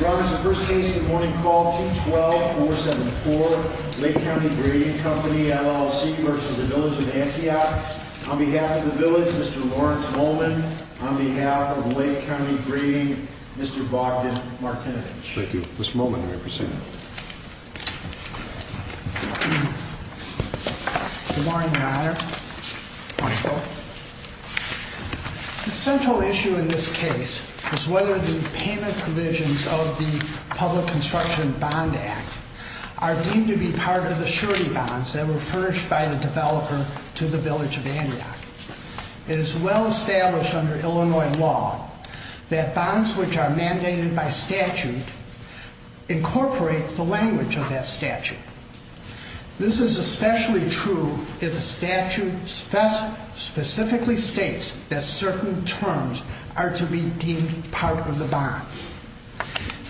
Your Honor, this is the first case of the morning call, 212-474, Lake County Grading Company, LLC v. Village of Antioch. On behalf of the Village, Mr. Lawrence Molman. On behalf of Lake County Grading, Mr. Bogdan Martinovich. Thank you. Mr. Molman, you may present. Good morning, Your Honor. The central issue in this case is whether the payment provisions of the Public Construction Bond Act are deemed to be part of the surety bonds that were furnished by the developer to the Village of Antioch. It is well established under Illinois law that bonds which are mandated by statute incorporate the language of that statute. This is especially true if the statute specifically states that certain terms are to be deemed part of the bond.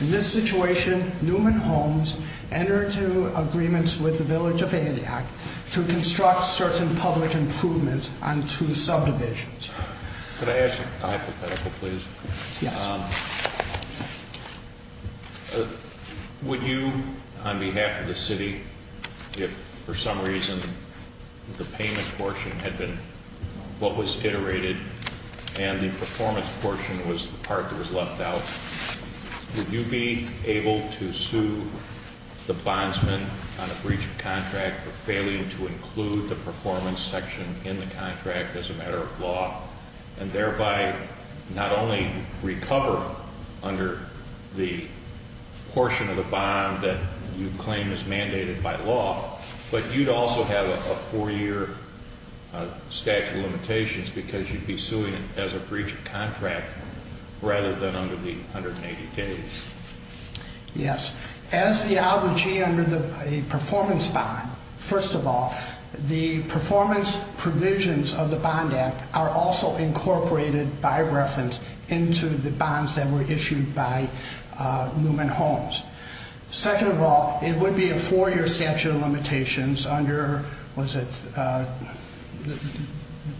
In this situation, Newman Homes entered into agreements with the Village of Antioch to construct certain public improvements on two subdivisions. Could I ask a hypothetical, please? Yes. Would you, on behalf of the city, if for some reason the payment portion had been what was iterated and the performance portion was the part that was left out, would you be able to sue the bondsman on a breach of contract for failing to include the performance section in the contract as a matter of law, and thereby not only recover under the portion of the bond that you claim is mandated by law, but you'd also have a four-year statute of limitations because you'd be suing as a breach of contract rather than under the 180 days? Yes. As the obligee under the performance bond, first of all, the performance provisions of the Bond Act are also incorporated by reference into the bonds that were issued by Newman Homes. Second of all, it would be a four-year statute of limitations under, was it,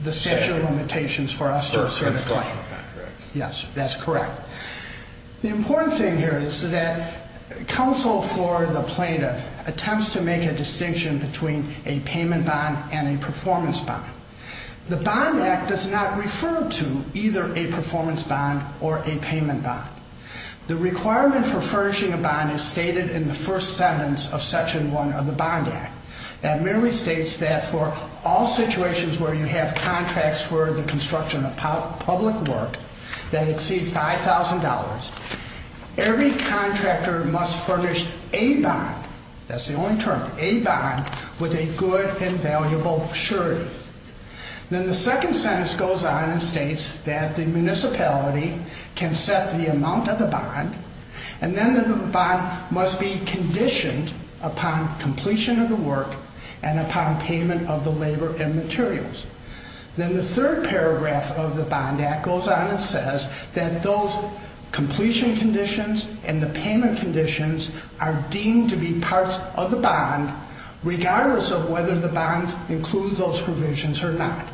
the statute of limitations for us to assert a claim? Yes, that's correct. The important thing here is that counsel for the plaintiff attempts to make a distinction between a payment bond and a performance bond. The Bond Act does not refer to either a performance bond or a payment bond. The requirement for furnishing a bond is stated in the first sentence of Section 1 of the Bond Act. That merely states that for all situations where you have contracts for the construction of public work that exceed $5,000, every contractor must furnish a bond, that's the only term, a bond, with a good and valuable surety. Then the second sentence goes on and states that the municipality can set the amount of the bond, and then the bond must be conditioned upon completion of the work and upon payment of the labor and materials. Then the third paragraph of the Bond Act goes on and says that those completion conditions and the payment conditions are deemed to be parts of the bond, regardless of whether the bond includes those provisions or not.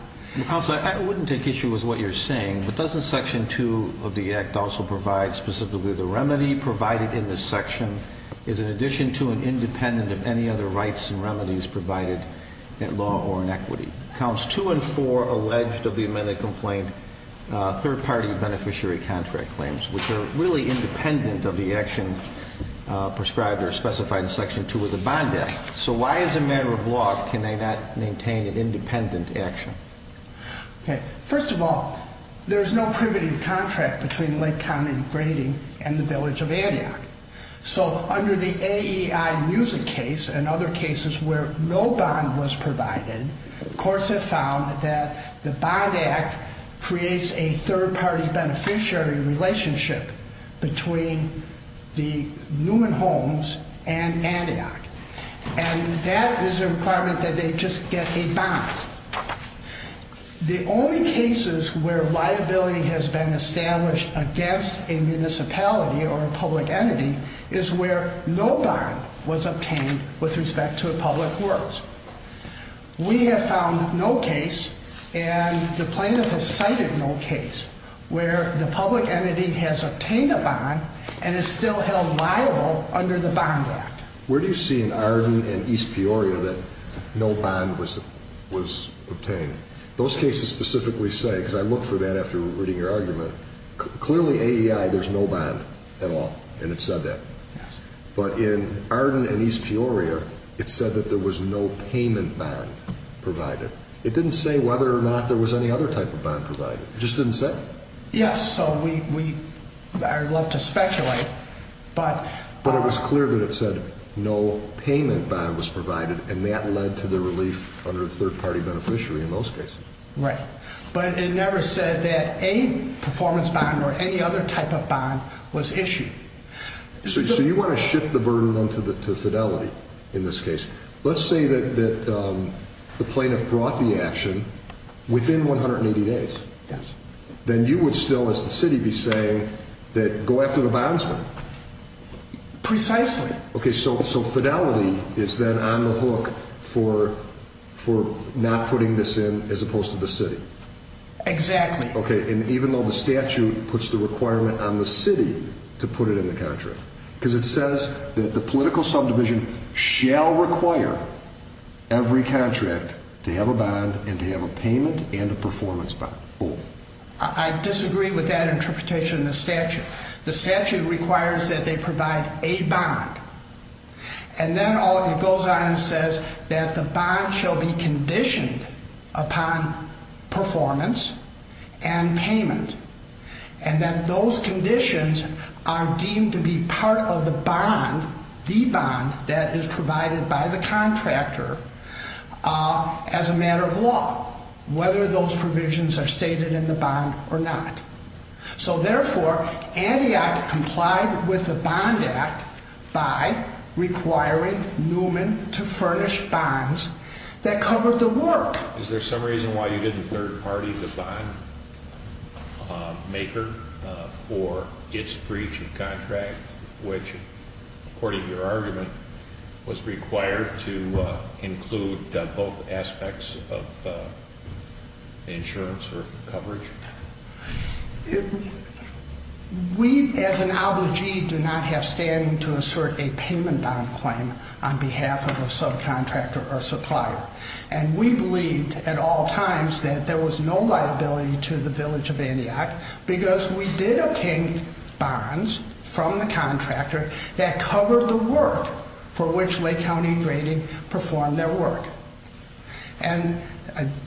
Counsel, I wouldn't take issue with what you're saying, but doesn't Section 2 of the Act also provide specifically the remedy provided in this section is in addition to and independent of any other rights and remedies provided at law or in equity? Counts 2 and 4 alleged of the amended complaint third-party beneficiary contract claims, which are really independent of the action prescribed or specified in Section 2 of the Bond Act. So why, as a matter of law, can they not maintain an independent action? First of all, there's no privative contract between Lake County Grading and the Village of Antioch. So under the AEI music case and other cases where no bond was provided, courts have found that the Bond Act creates a third-party beneficiary relationship between the Newman Homes and Antioch. And that is a requirement that they just get a bond. The only cases where liability has been established against a municipality or a public entity is where no bond was obtained with respect to a public works. We have found no case, and the plaintiff has cited no case, where the public entity has obtained a bond and is still held liable under the Bond Act. Where do you see in Arden and East Peoria that no bond was obtained? Those cases specifically say, because I looked for that after reading your argument, clearly AEI, there's no bond at all, and it said that. But in Arden and East Peoria, it said that there was no payment bond provided. It didn't say whether or not there was any other type of bond provided. It just didn't say. Yes, so I'd love to speculate, but... But it was clear that it said no payment bond was provided, and that led to the relief under a third-party beneficiary in most cases. Right. But it never said that a performance bond or any other type of bond was issued. So you want to shift the burden, then, to fidelity in this case. Let's say that the plaintiff brought the action within 180 days. Yes. Then you would still, as the city, be saying that go after the bondsman. Precisely. Okay, so fidelity is then on the hook for not putting this in as opposed to the city. Exactly. Okay, and even though the statute puts the requirement on the city to put it in the contract, because it says that the political subdivision shall require every contract to have a bond and to have a payment and a performance bond, both. I disagree with that interpretation in the statute. The statute requires that they provide a bond, And then it goes on and says that the bond shall be conditioned upon performance and payment, and that those conditions are deemed to be part of the bond, the bond that is provided by the contractor as a matter of law, whether those provisions are stated in the bond or not. So, therefore, Antioch complied with the Bond Act by requiring Newman to furnish bonds that covered the work. Is there some reason why you didn't third party the bondmaker for its breach of contract, which, according to your argument, was required to include both aspects of insurance or coverage? We, as an obligee, do not have standing to assert a payment bond claim on behalf of a subcontractor or supplier. And we believed at all times that there was no liability to the Village of Antioch, because we did obtain bonds from the contractor that covered the work for which Lake County Grading performed their work. And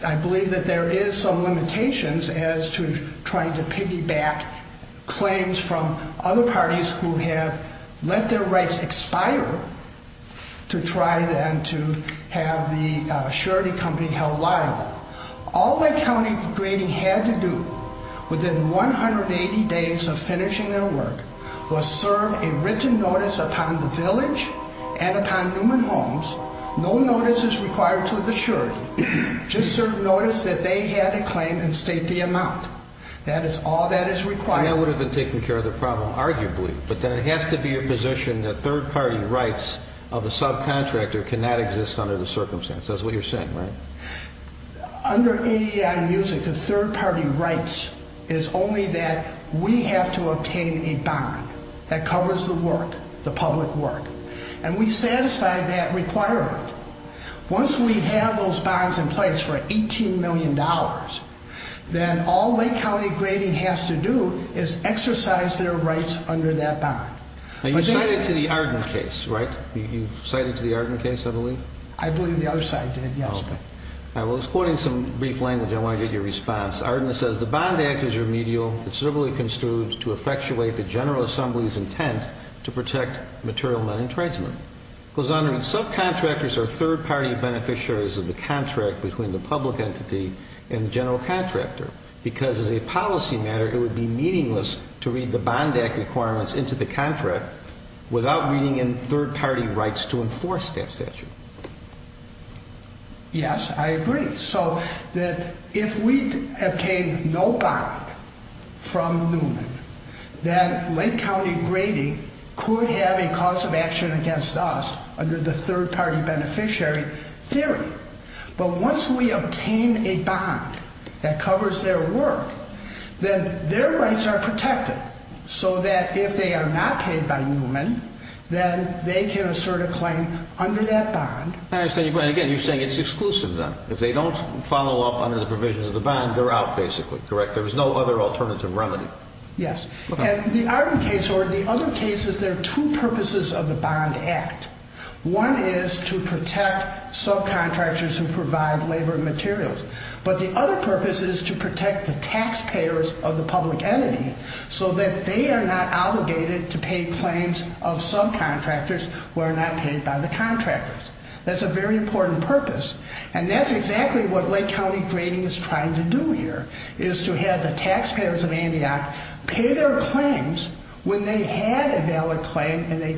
I believe that there is some limitations as to trying to piggyback claims from other parties who have let their rights expire to try then to have the surety company held liable. All Lake County Grading had to do within 180 days of finishing their work was serve a written notice upon the Village and upon Newman Homes. No notice is required to the surety. Just serve notice that they had a claim and state the amount. That is all that is required. And that would have been taking care of the problem, arguably. But then it has to be a position that third party rights of a subcontractor cannot exist under the circumstance. That's what you're saying, right? Under AEI Music, the third party rights is only that we have to obtain a bond that covers the work, the public work. And we satisfy that requirement. Once we have those bonds in place for $18 million, then all Lake County Grading has to do is exercise their rights under that bond. You cited to the Arden case, right? You cited to the Arden case, I believe. I believe the other side did, yes. I was quoting some brief language. I want to get your response. Arden says, Because the Bond Act is remedial. It's civilly construed to effectuate the General Assembly's intent to protect material money and tradesmen. It goes on to read, Subcontractors are third party beneficiaries of the contract between the public entity and the general contractor. Because as a policy matter, it would be meaningless to read the Bond Act requirements into the contract without reading in third party rights to enforce that statute. Yes, I agree. So that if we obtain no bond from Newman, then Lake County Grading could have a cause of action against us under the third party beneficiary theory. But once we obtain a bond that covers their work, then their rights are protected. So that if they are not paid by Newman, then they can assert a claim under that bond. I understand your point. Again, you're saying it's exclusive then. If they don't follow up under the provisions of the bond, they're out basically, correct? There is no other alternative remedy. Yes. And the Arden case or the other cases, there are two purposes of the Bond Act. One is to protect subcontractors who provide labor and materials. But the other purpose is to protect the taxpayers of the public entity so that they are not obligated to pay claims of subcontractors who are not paid by the contractors. That's a very important purpose. And that's exactly what Lake County Grading is trying to do here, is to have the taxpayers of Antioch pay their claims when they had a valid claim and they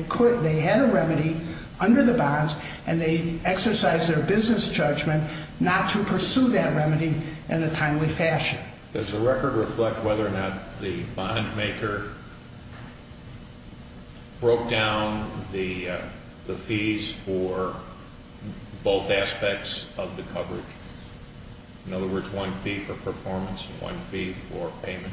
had a remedy under the bonds, and they exercised their business judgment not to pursue that remedy in a timely fashion. Does the record reflect whether or not the bondmaker broke down the fees for both aspects of the coverage? In other words, one fee for performance and one fee for payment?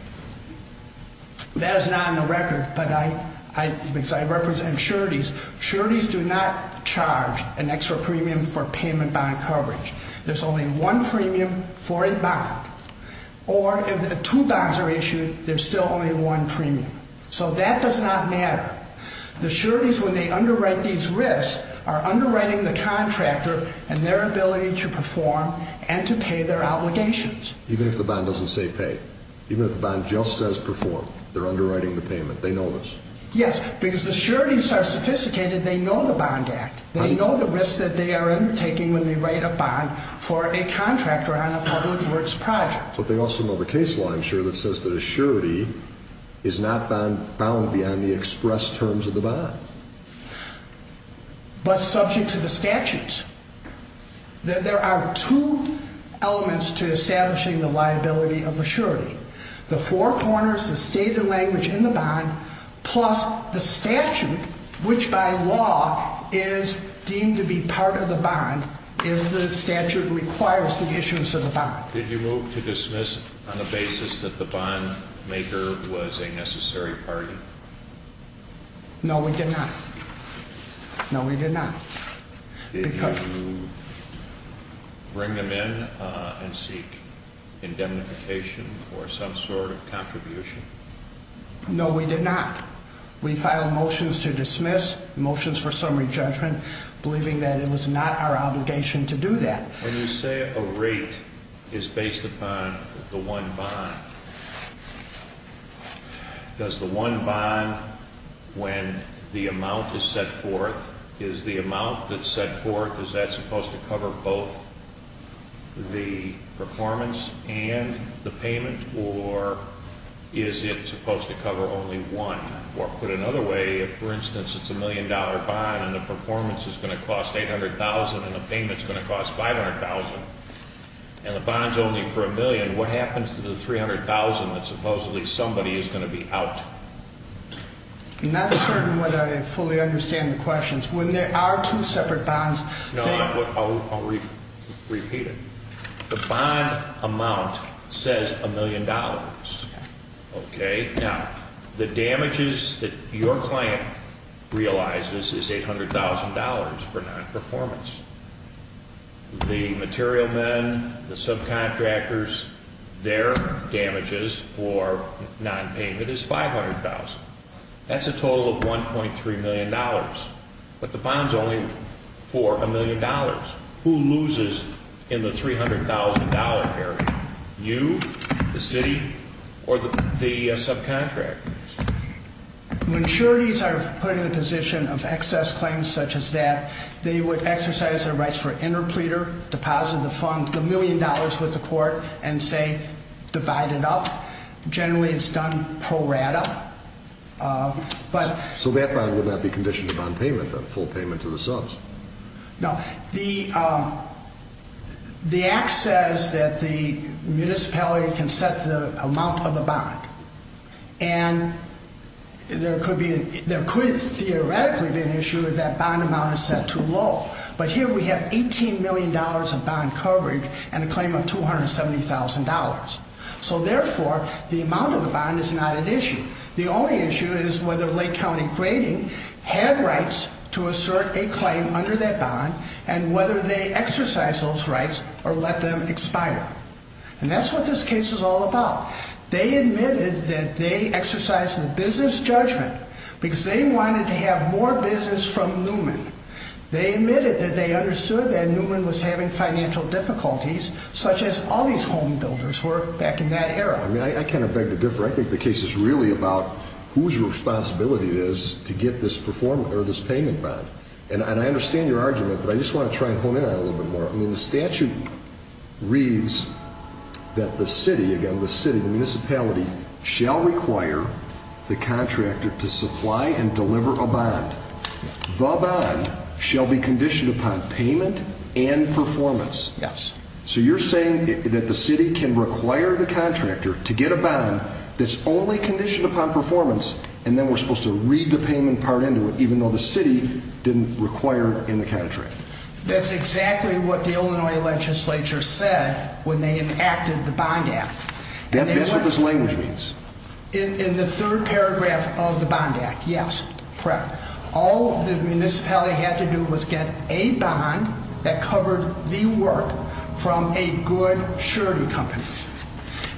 That is not in the record, but I represent sureties. Sureties do not charge an extra premium for payment bond coverage. There's only one premium for a bond. Or if two bonds are issued, there's still only one premium. So that does not matter. The sureties, when they underwrite these risks, are underwriting the contractor and their ability to perform and to pay their obligations. Even if the bond doesn't say pay? Even if the bond just says perform, they're underwriting the payment. They know this? Yes, because the sureties are sophisticated. They know the Bond Act. They know the risks that they are undertaking when they write a bond for a contractor on a public works project. But they also know the case law, I'm sure, that says that a surety is not bound beyond the express terms of the bond. But subject to the statutes. There are two elements to establishing the liability of a surety. The four corners, the state and language in the bond, plus the statute, which by law is deemed to be part of the bond, is the statute that requires the issuance of the bond. Did you move to dismiss on the basis that the bondmaker was a necessary party? No, we did not. No, we did not. Did you bring them in and seek indemnification or some sort of contribution? No, we did not. We filed motions to dismiss, motions for summary judgment, believing that it was not our obligation to do that. When you say a rate is based upon the one bond, does the one bond, when the amount is set forth, is the amount that's set forth, is that supposed to cover both the performance and the payment? Or is it supposed to cover only one? Or put another way, if, for instance, it's a million dollar bond, and the performance is going to cost $800,000 and the payment is going to cost $500,000, and the bond's only for a million, what happens to the $300,000 that supposedly somebody is going to be out? I'm not certain whether I fully understand the questions. When there are two separate bonds, they... No, I'll repeat it. The bond amount says a million dollars. Okay. Now, the damages that your client realizes is $800,000 for non-performance. The material men, the subcontractors, their damages for non-payment is $500,000. That's a total of $1.3 million. But the bond's only for a million dollars. Who loses in the $300,000 area? You, the city, or the subcontractors? When sureties are put in the position of excess claims such as that, they would exercise their rights for interpleader, deposit the fund, the million dollars with the court, and say divide it up. Generally, it's done pro rata. So that bond would not be conditioned to bond payment, the full payment to the subs. No. And there could theoretically be an issue if that bond amount is set too low. But here we have $18 million of bond coverage and a claim of $270,000. So therefore, the amount of the bond is not an issue. The only issue is whether Lake County Grading had rights to assert a claim under that bond and whether they exercised those rights or let them expire. And that's what this case is all about. They admitted that they exercised the business judgment because they wanted to have more business from Newman. They admitted that they understood that Newman was having financial difficulties, such as all these homebuilders were back in that era. I kind of beg to differ. I think the case is really about whose responsibility it is to get this payment bond. And I understand your argument, but I just want to try and hone in on it a little bit more. The statute reads that the city, the municipality, shall require the contractor to supply and deliver a bond. The bond shall be conditioned upon payment and performance. Yes. So you're saying that the city can require the contractor to get a bond that's only conditioned upon performance and then we're supposed to read the payment part into it even though the city didn't require it in the contract. That's exactly what the Illinois legislature said when they enacted the Bond Act. Then that's what this language means. In the third paragraph of the Bond Act, yes, correct. All the municipality had to do was get a bond that covered the work from a good surety company.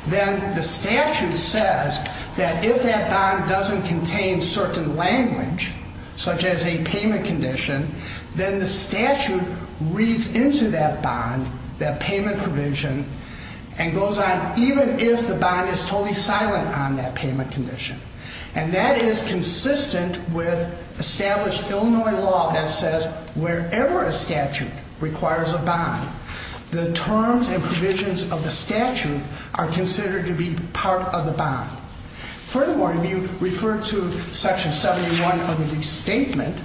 Then the statute says that if that bond doesn't contain certain language, such as a payment condition, then the statute reads into that bond, that payment provision, and goes on even if the bond is totally silent on that payment condition. And that is consistent with established Illinois law that says wherever a statute requires a bond, the terms and provisions of the statute are considered to be part of the bond. Furthermore, if you refer to Section 71 of the Statement,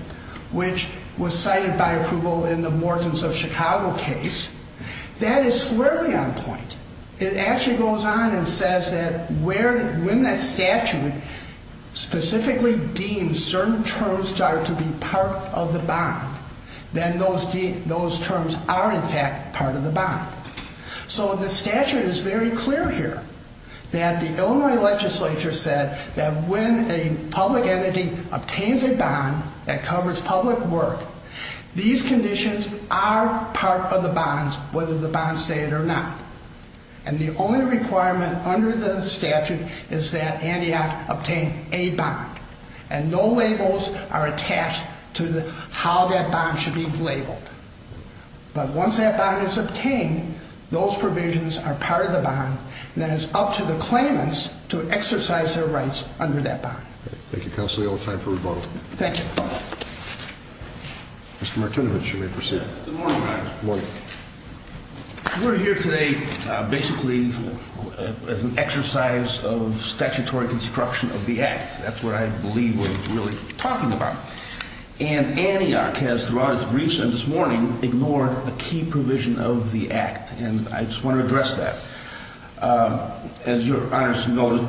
which was cited by approval in the Mortons of Chicago case, that is squarely on point. It actually goes on and says that when that statute specifically deems certain terms are to be part of the bond, then those terms are in fact part of the bond. So the statute is very clear here that the Illinois legislature said that when a public entity obtains a bond that covers public work, these conditions are part of the bonds, whether the bonds say it or not. And the only requirement under the statute is that Antioch obtain a bond. And no labels are attached to how that bond should be labeled. But once that bond is obtained, those provisions are part of the bond, and then it's up to the claimants to exercise their rights under that bond. Thank you, Counselor. We have time for a rebuttal. Thank you. Mr. Martinovich, you may proceed. Good morning, Your Honor. Good morning. We're here today basically as an exercise of statutory construction of the Act. That's what I believe we're really talking about. And Antioch has, throughout its briefs and this morning, ignored a key provision of the Act, and I just want to address that. As Your Honor has noted,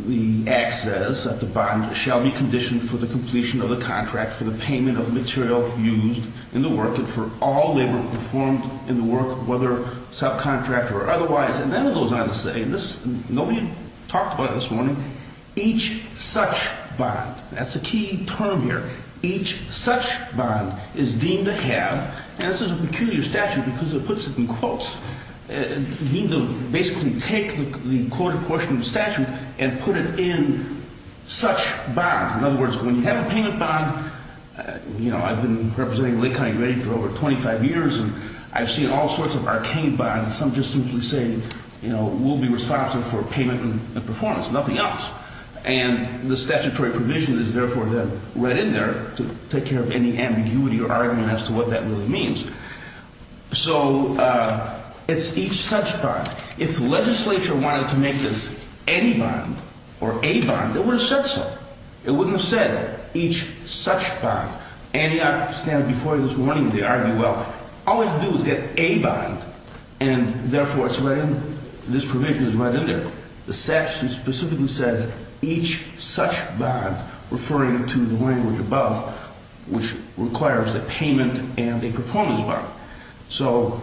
the Act says that the bond shall be conditioned for the completion of the contract for the payment of material used in the work and for all labor performed in the work, whether subcontract or otherwise. And then it goes on to say, and nobody talked about it this morning, each such bond. That's a key term here. Each such bond is deemed to have, and this is a peculiar statute because it puts it in quotes, deemed to basically take the quoted portion of the statute and put it in such bond. In other words, when you have a payment bond, you know, I've been representing Lake County Grade for over 25 years, and I've seen all sorts of arcane bonds. Some just simply say, you know, we'll be responsible for payment and performance, nothing else. And the statutory provision is therefore then right in there to take care of any ambiguity or argument as to what that really means. So it's each such bond. If the legislature wanted to make this any bond or a bond, it would have said so. It wouldn't have said each such bond. Antioch, standing before you this morning, they argue, well, all we have to do is get a bond, and therefore this provision is right in there. The statute specifically says each such bond, referring to the language above, which requires a payment and a performance bond. So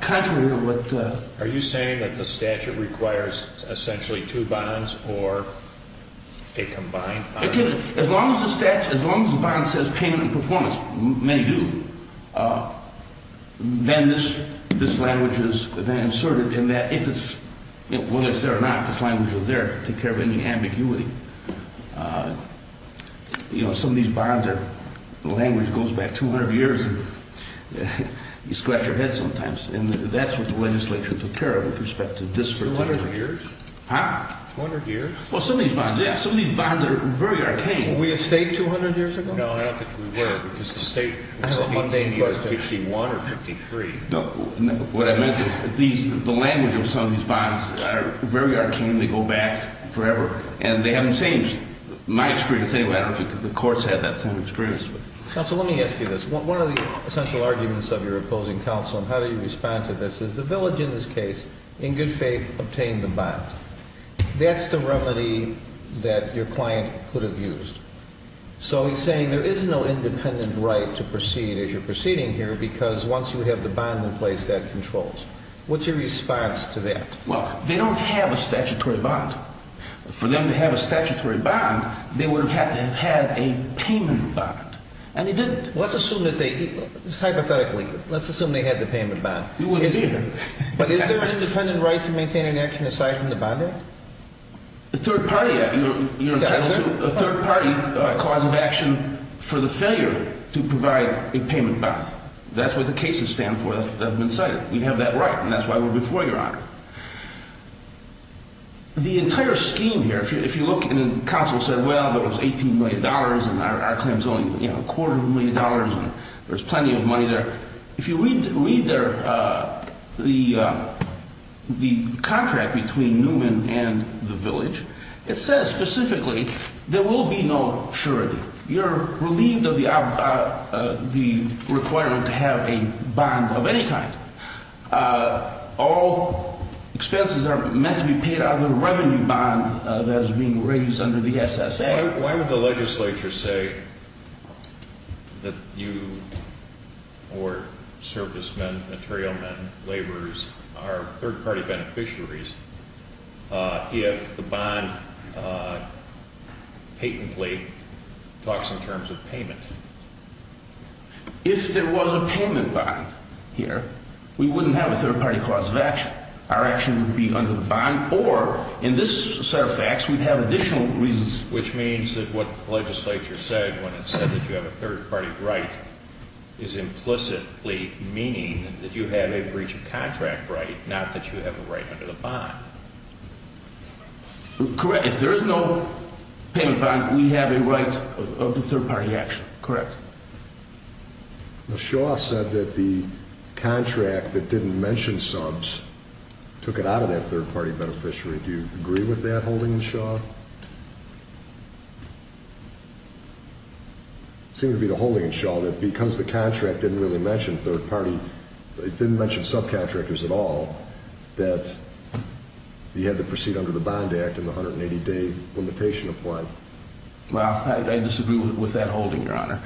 contrary to what the... Are you saying that the statute requires essentially two bonds or a combined bond? As long as the statute, as long as the bond says payment and performance, many do, then this language is inserted in that if it's, whether it's there or not, this language is there to take care of any ambiguity. You know, some of these bonds are, the language goes back 200 years. You scratch your head sometimes. And that's what the legislature took care of with respect to this particular... 200 years? Huh? 200 years? Well, some of these bonds, yeah. Some of these bonds are very arcane. Were we a state 200 years ago? No, I don't think we were because the state... I don't think we were. ...was in 1861 or 1853. No, what I meant is the language of some of these bonds are very arcane. They go back forever, and they haven't changed. My experience, anyway, I don't think the courts had that same experience. Counsel, let me ask you this. One of the essential arguments of your opposing counsel, and how do you respond to this, is the village in this case, in good faith, obtained the bond. That's the remedy that your client could have used. So he's saying there is no independent right to proceed as you're proceeding here because once you have the bond in place, that controls. What's your response to that? Well, they don't have a statutory bond. For them to have a statutory bond, they would have had to have had a payment bond. And they didn't. Let's assume that they... Hypothetically, let's assume they had the payment bond. You wouldn't be here. But is there an independent right to maintain an action aside from the Bond Act? The Third Party Act, you're entitled to. You're entitled to a third party cause of action for the failure to provide a payment bond. That's what the cases stand for that have been cited. We have that right, and that's why we're before you, Your Honor. The entire scheme here, if you look, and counsel said, well, there was $18 million, and our claim is only a quarter of a million dollars, and there's plenty of money there. If you read the contract between Newman and the village, it says specifically there will be no surety. You're relieved of the requirement to have a bond of any kind. All expenses are meant to be paid out of the revenue bond that is being raised under the SSA. Why would the legislature say that you or servicemen, material men, laborers, are third party beneficiaries if the bond patently talks in terms of payment? If there was a payment bond here, we wouldn't have a third party cause of action. Our action would be under the bond, or in this set of facts, we'd have additional reasons. Which means that what the legislature said when it said that you have a third party right is implicitly meaning that you have a breach of contract right, not that you have a right under the bond. Correct. If there is no payment bond, we have a right of the third party action. Correct. Shaw said that the contract that didn't mention subs took it out of that third party beneficiary. Do you agree with that holding, Shaw? It seemed to be the holding, Shaw, that because the contract didn't really mention third party, it didn't mention subcontractors at all, that you had to proceed under the Bond Act and the 180 day limitation applied. Well, I disagree with that holding, Your Honor.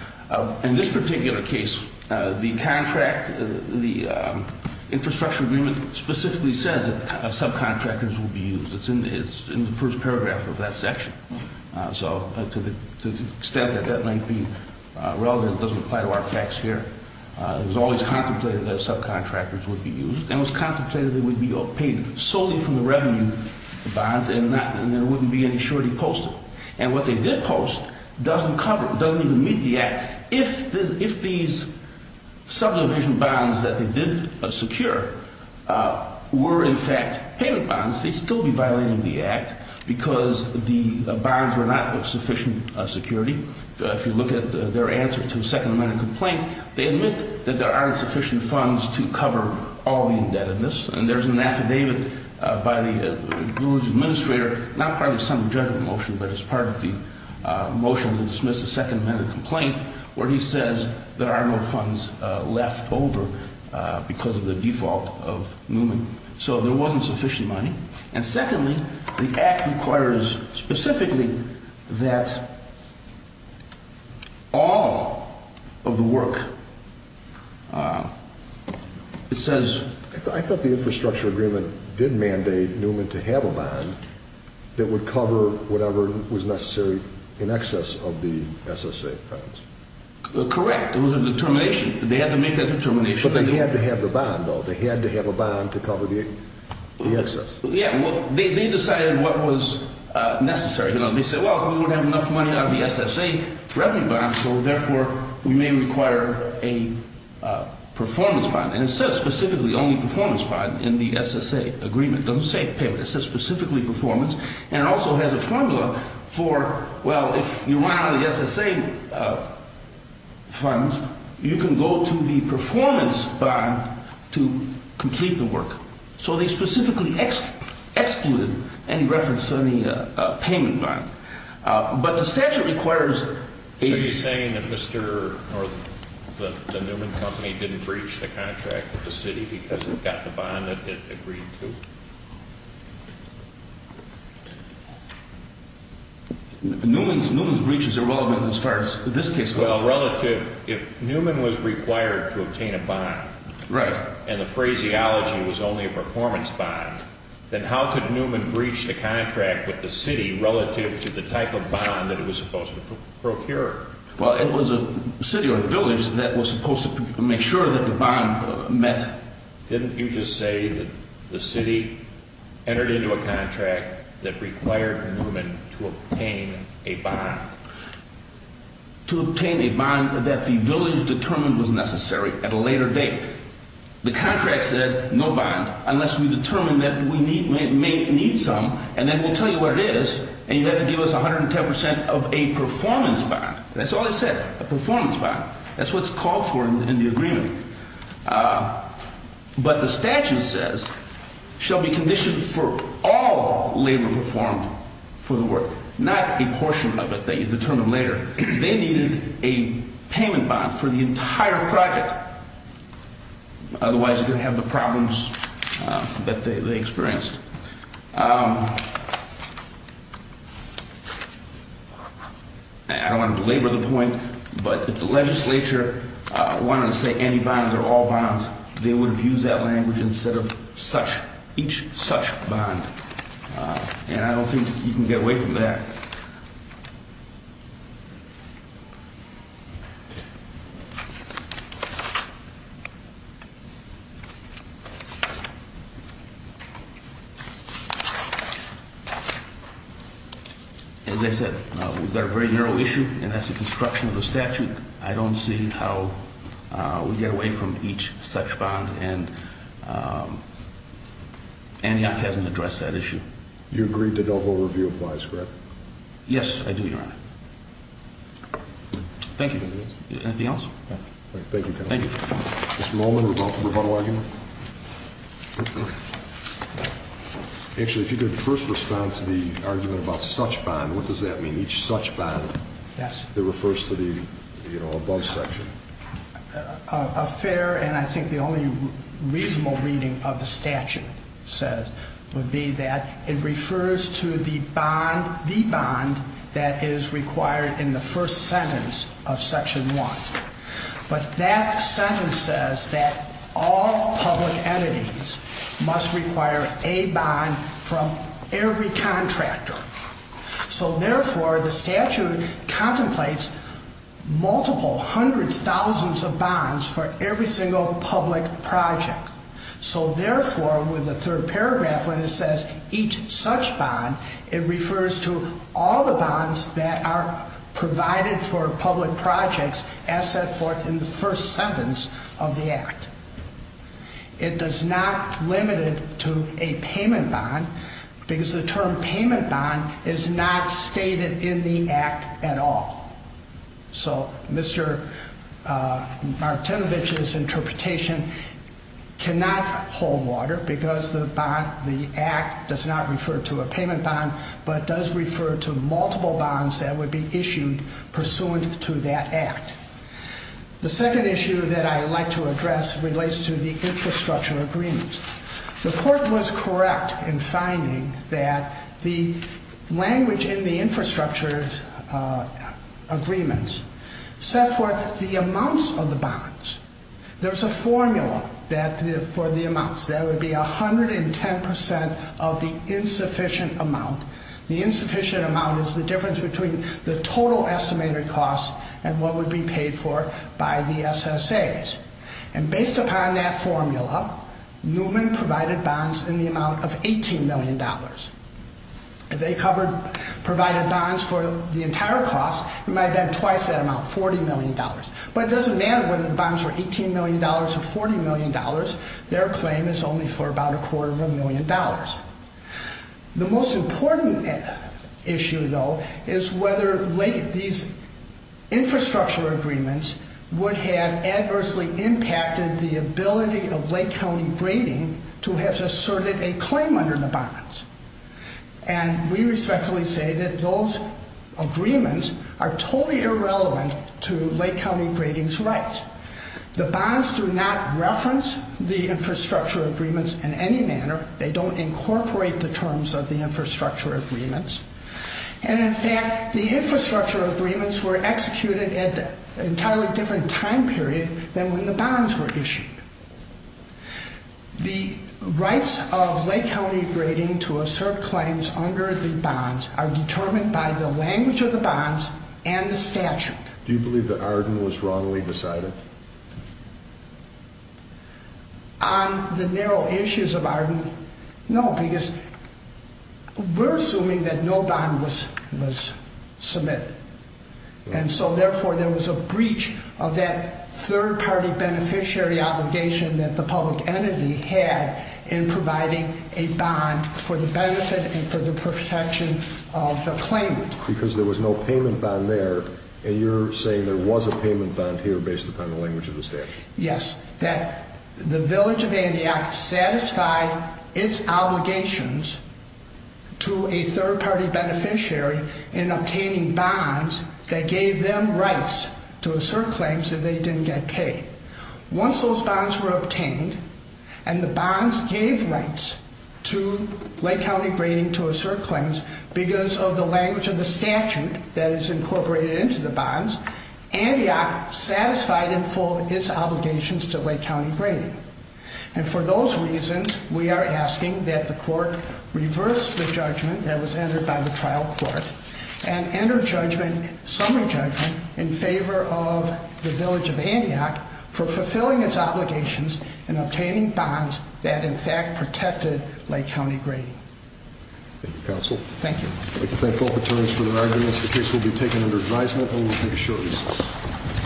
In this particular case, the contract, the infrastructure agreement, specifically says that subcontractors will be used. It's in the first paragraph of the contract. So to the extent that that might be relevant, it doesn't apply to our facts here. It was always contemplated that subcontractors would be used and it was contemplated that they would be paid solely from the revenue bonds and there wouldn't be any surety posted. And what they did post doesn't cover, doesn't even meet the act. If these subdivision bonds that they did secure were in fact payment bonds, they'd still be violating the act because the bonds were not of sufficient security. If you look at their answer to the Second Amendment complaint, they admit that there aren't sufficient funds to cover all the indebtedness. And there's an affidavit by the Gluge administrator, not part of the Senate Judgment Motion, but as part of the motion to dismiss the Second Amendment complaint, where he says there are no funds left over because of the default of Newman. So there wasn't sufficient money. And secondly, the act requires specifically that all of the work, it says... I thought the infrastructure agreement did mandate Newman to have a bond that would cover whatever was necessary in excess of the SSA funds. Correct. It was a determination. They had to make that determination. But they had to have the bond, though. They had to have a bond to cover the excess. Yeah. They decided what was necessary. They said, well, if we don't have enough money out of the SSA revenue bond, so therefore we may require a performance bond. And it says specifically only performance bond in the SSA agreement. It doesn't say payment. It says specifically performance. And it also has a formula for, well, if you want out of the SSA funds, you can go to the performance bond to complete the work. So they specifically excluded any reference to any payment bond. But the statute requires... So you're saying that Mr. or the Newman Company didn't breach the contract with the city because it got the bond that it agreed to? Newman's breach is irrelevant as far as this case goes. Well, relative, if Newman was required to obtain a bond... Right. ...and the phraseology was only a performance bond, then how could Newman breach the contract with the city relative to the type of bond that it was supposed to procure? Well, it was a city or a village that was supposed to make sure that the bond met. Didn't you just say that the city entered into a contract that required Newman to obtain a bond? To obtain a bond that the village determined was necessary at a later date. The contract said no bond unless we determine that we may need some, and then we'll tell you what it is, and you have to give us 110% of a performance bond. That's all it said, a performance bond. That's what's called for in the agreement. But the statute says, shall be conditioned for all labor performed for the work, not a portion of it that you determine later. They needed a payment bond for the entire project. Otherwise, you're going to have the problems that they experienced. I don't want to belabor the point, but if the legislature wanted to say any bonds are all bonds, they would have used that language instead of such, each such bond. And I don't think you can get away from that. As I said, we've got a very narrow issue, and that's the construction of the statute. I don't see how we get away from each such bond, and Antioch hasn't addressed that issue. You agree the Dovo review applies, correct? Yes, I do, Your Honor. Thank you. Anything else? No. Thank you, counsel. Thank you. Mr. Molman, rebuttal argument? Actually, if you could first respond to the argument about such bond, what does that mean, each such bond? Yes. It refers to the above section. A fair and I think the only reasonable reading of the statute would be that it refers to the bond that is required in the first sentence of Section 1. But that sentence says that all public entities must require a bond from every contractor. So, therefore, the statute contemplates multiple hundreds, thousands of bonds for every single public project. So, therefore, with the third paragraph when it says each such bond, it refers to all the bonds that are provided for public projects as set forth in the first sentence of the Act. It does not limit it to a payment bond because the term payment bond is not stated in the Act at all. So, Mr. Martinovich's interpretation cannot hold water because the Act does not refer to a payment bond but does refer to multiple bonds that would be issued pursuant to that Act. The second issue that I'd like to address relates to the infrastructure agreements. The court was correct in finding that the language in the infrastructure agreements set forth the amounts of the bonds. There's a formula for the amounts. That would be 110% of the insufficient amount. The insufficient amount is the difference between the total estimated cost and what would be paid for by the SSAs. And based upon that formula, Newman provided bonds in the amount of $18 million. If they provided bonds for the entire cost, it might have been twice that amount, $40 million. But it doesn't matter whether the bonds were $18 million or $40 million. Their claim is only for about a quarter of a million dollars. The most important issue, though, is whether these infrastructure agreements would have adversely impacted the ability of Lake County Grading to have asserted a claim under the bonds. And we respectfully say that those agreements are totally irrelevant to Lake County Grading's rights. The bonds do not reference the infrastructure agreements in any manner. They don't incorporate the terms of the infrastructure agreements. And, in fact, the infrastructure agreements were executed at an entirely different time period than when the bonds were issued. The rights of Lake County Grading to assert claims under the bonds are determined by the language of the bonds and the statute. Do you believe that Arden was wrongly decided? On the narrow issues of Arden, no, because we're assuming that no bond was submitted. And so, therefore, there was a breach of that third-party beneficiary obligation that the public entity had in providing a bond for the benefit and for the protection of the claimant. Because there was no payment bond there, and you're saying there was a payment bond here based upon the language of the statute. Yes, that the Village of Andiac satisfied its obligations to a third-party beneficiary in obtaining bonds that gave them rights to assert claims that they didn't get paid. Once those bonds were obtained and the bonds gave rights to Lake County Grading to assert claims because of the language of the statute that is incorporated into the bonds, Andiac satisfied in full its obligations to Lake County Grading. And for those reasons, we are asking that the court reverse the judgment that was entered by the trial court and enter summary judgment in favor of the Village of Andiac for fulfilling its obligations in obtaining bonds that, in fact, protected Lake County Grading. Thank you, counsel. Thank you. I'd like to thank both attorneys for their arguments. The case will be taken under advisement, and we'll take a short recess.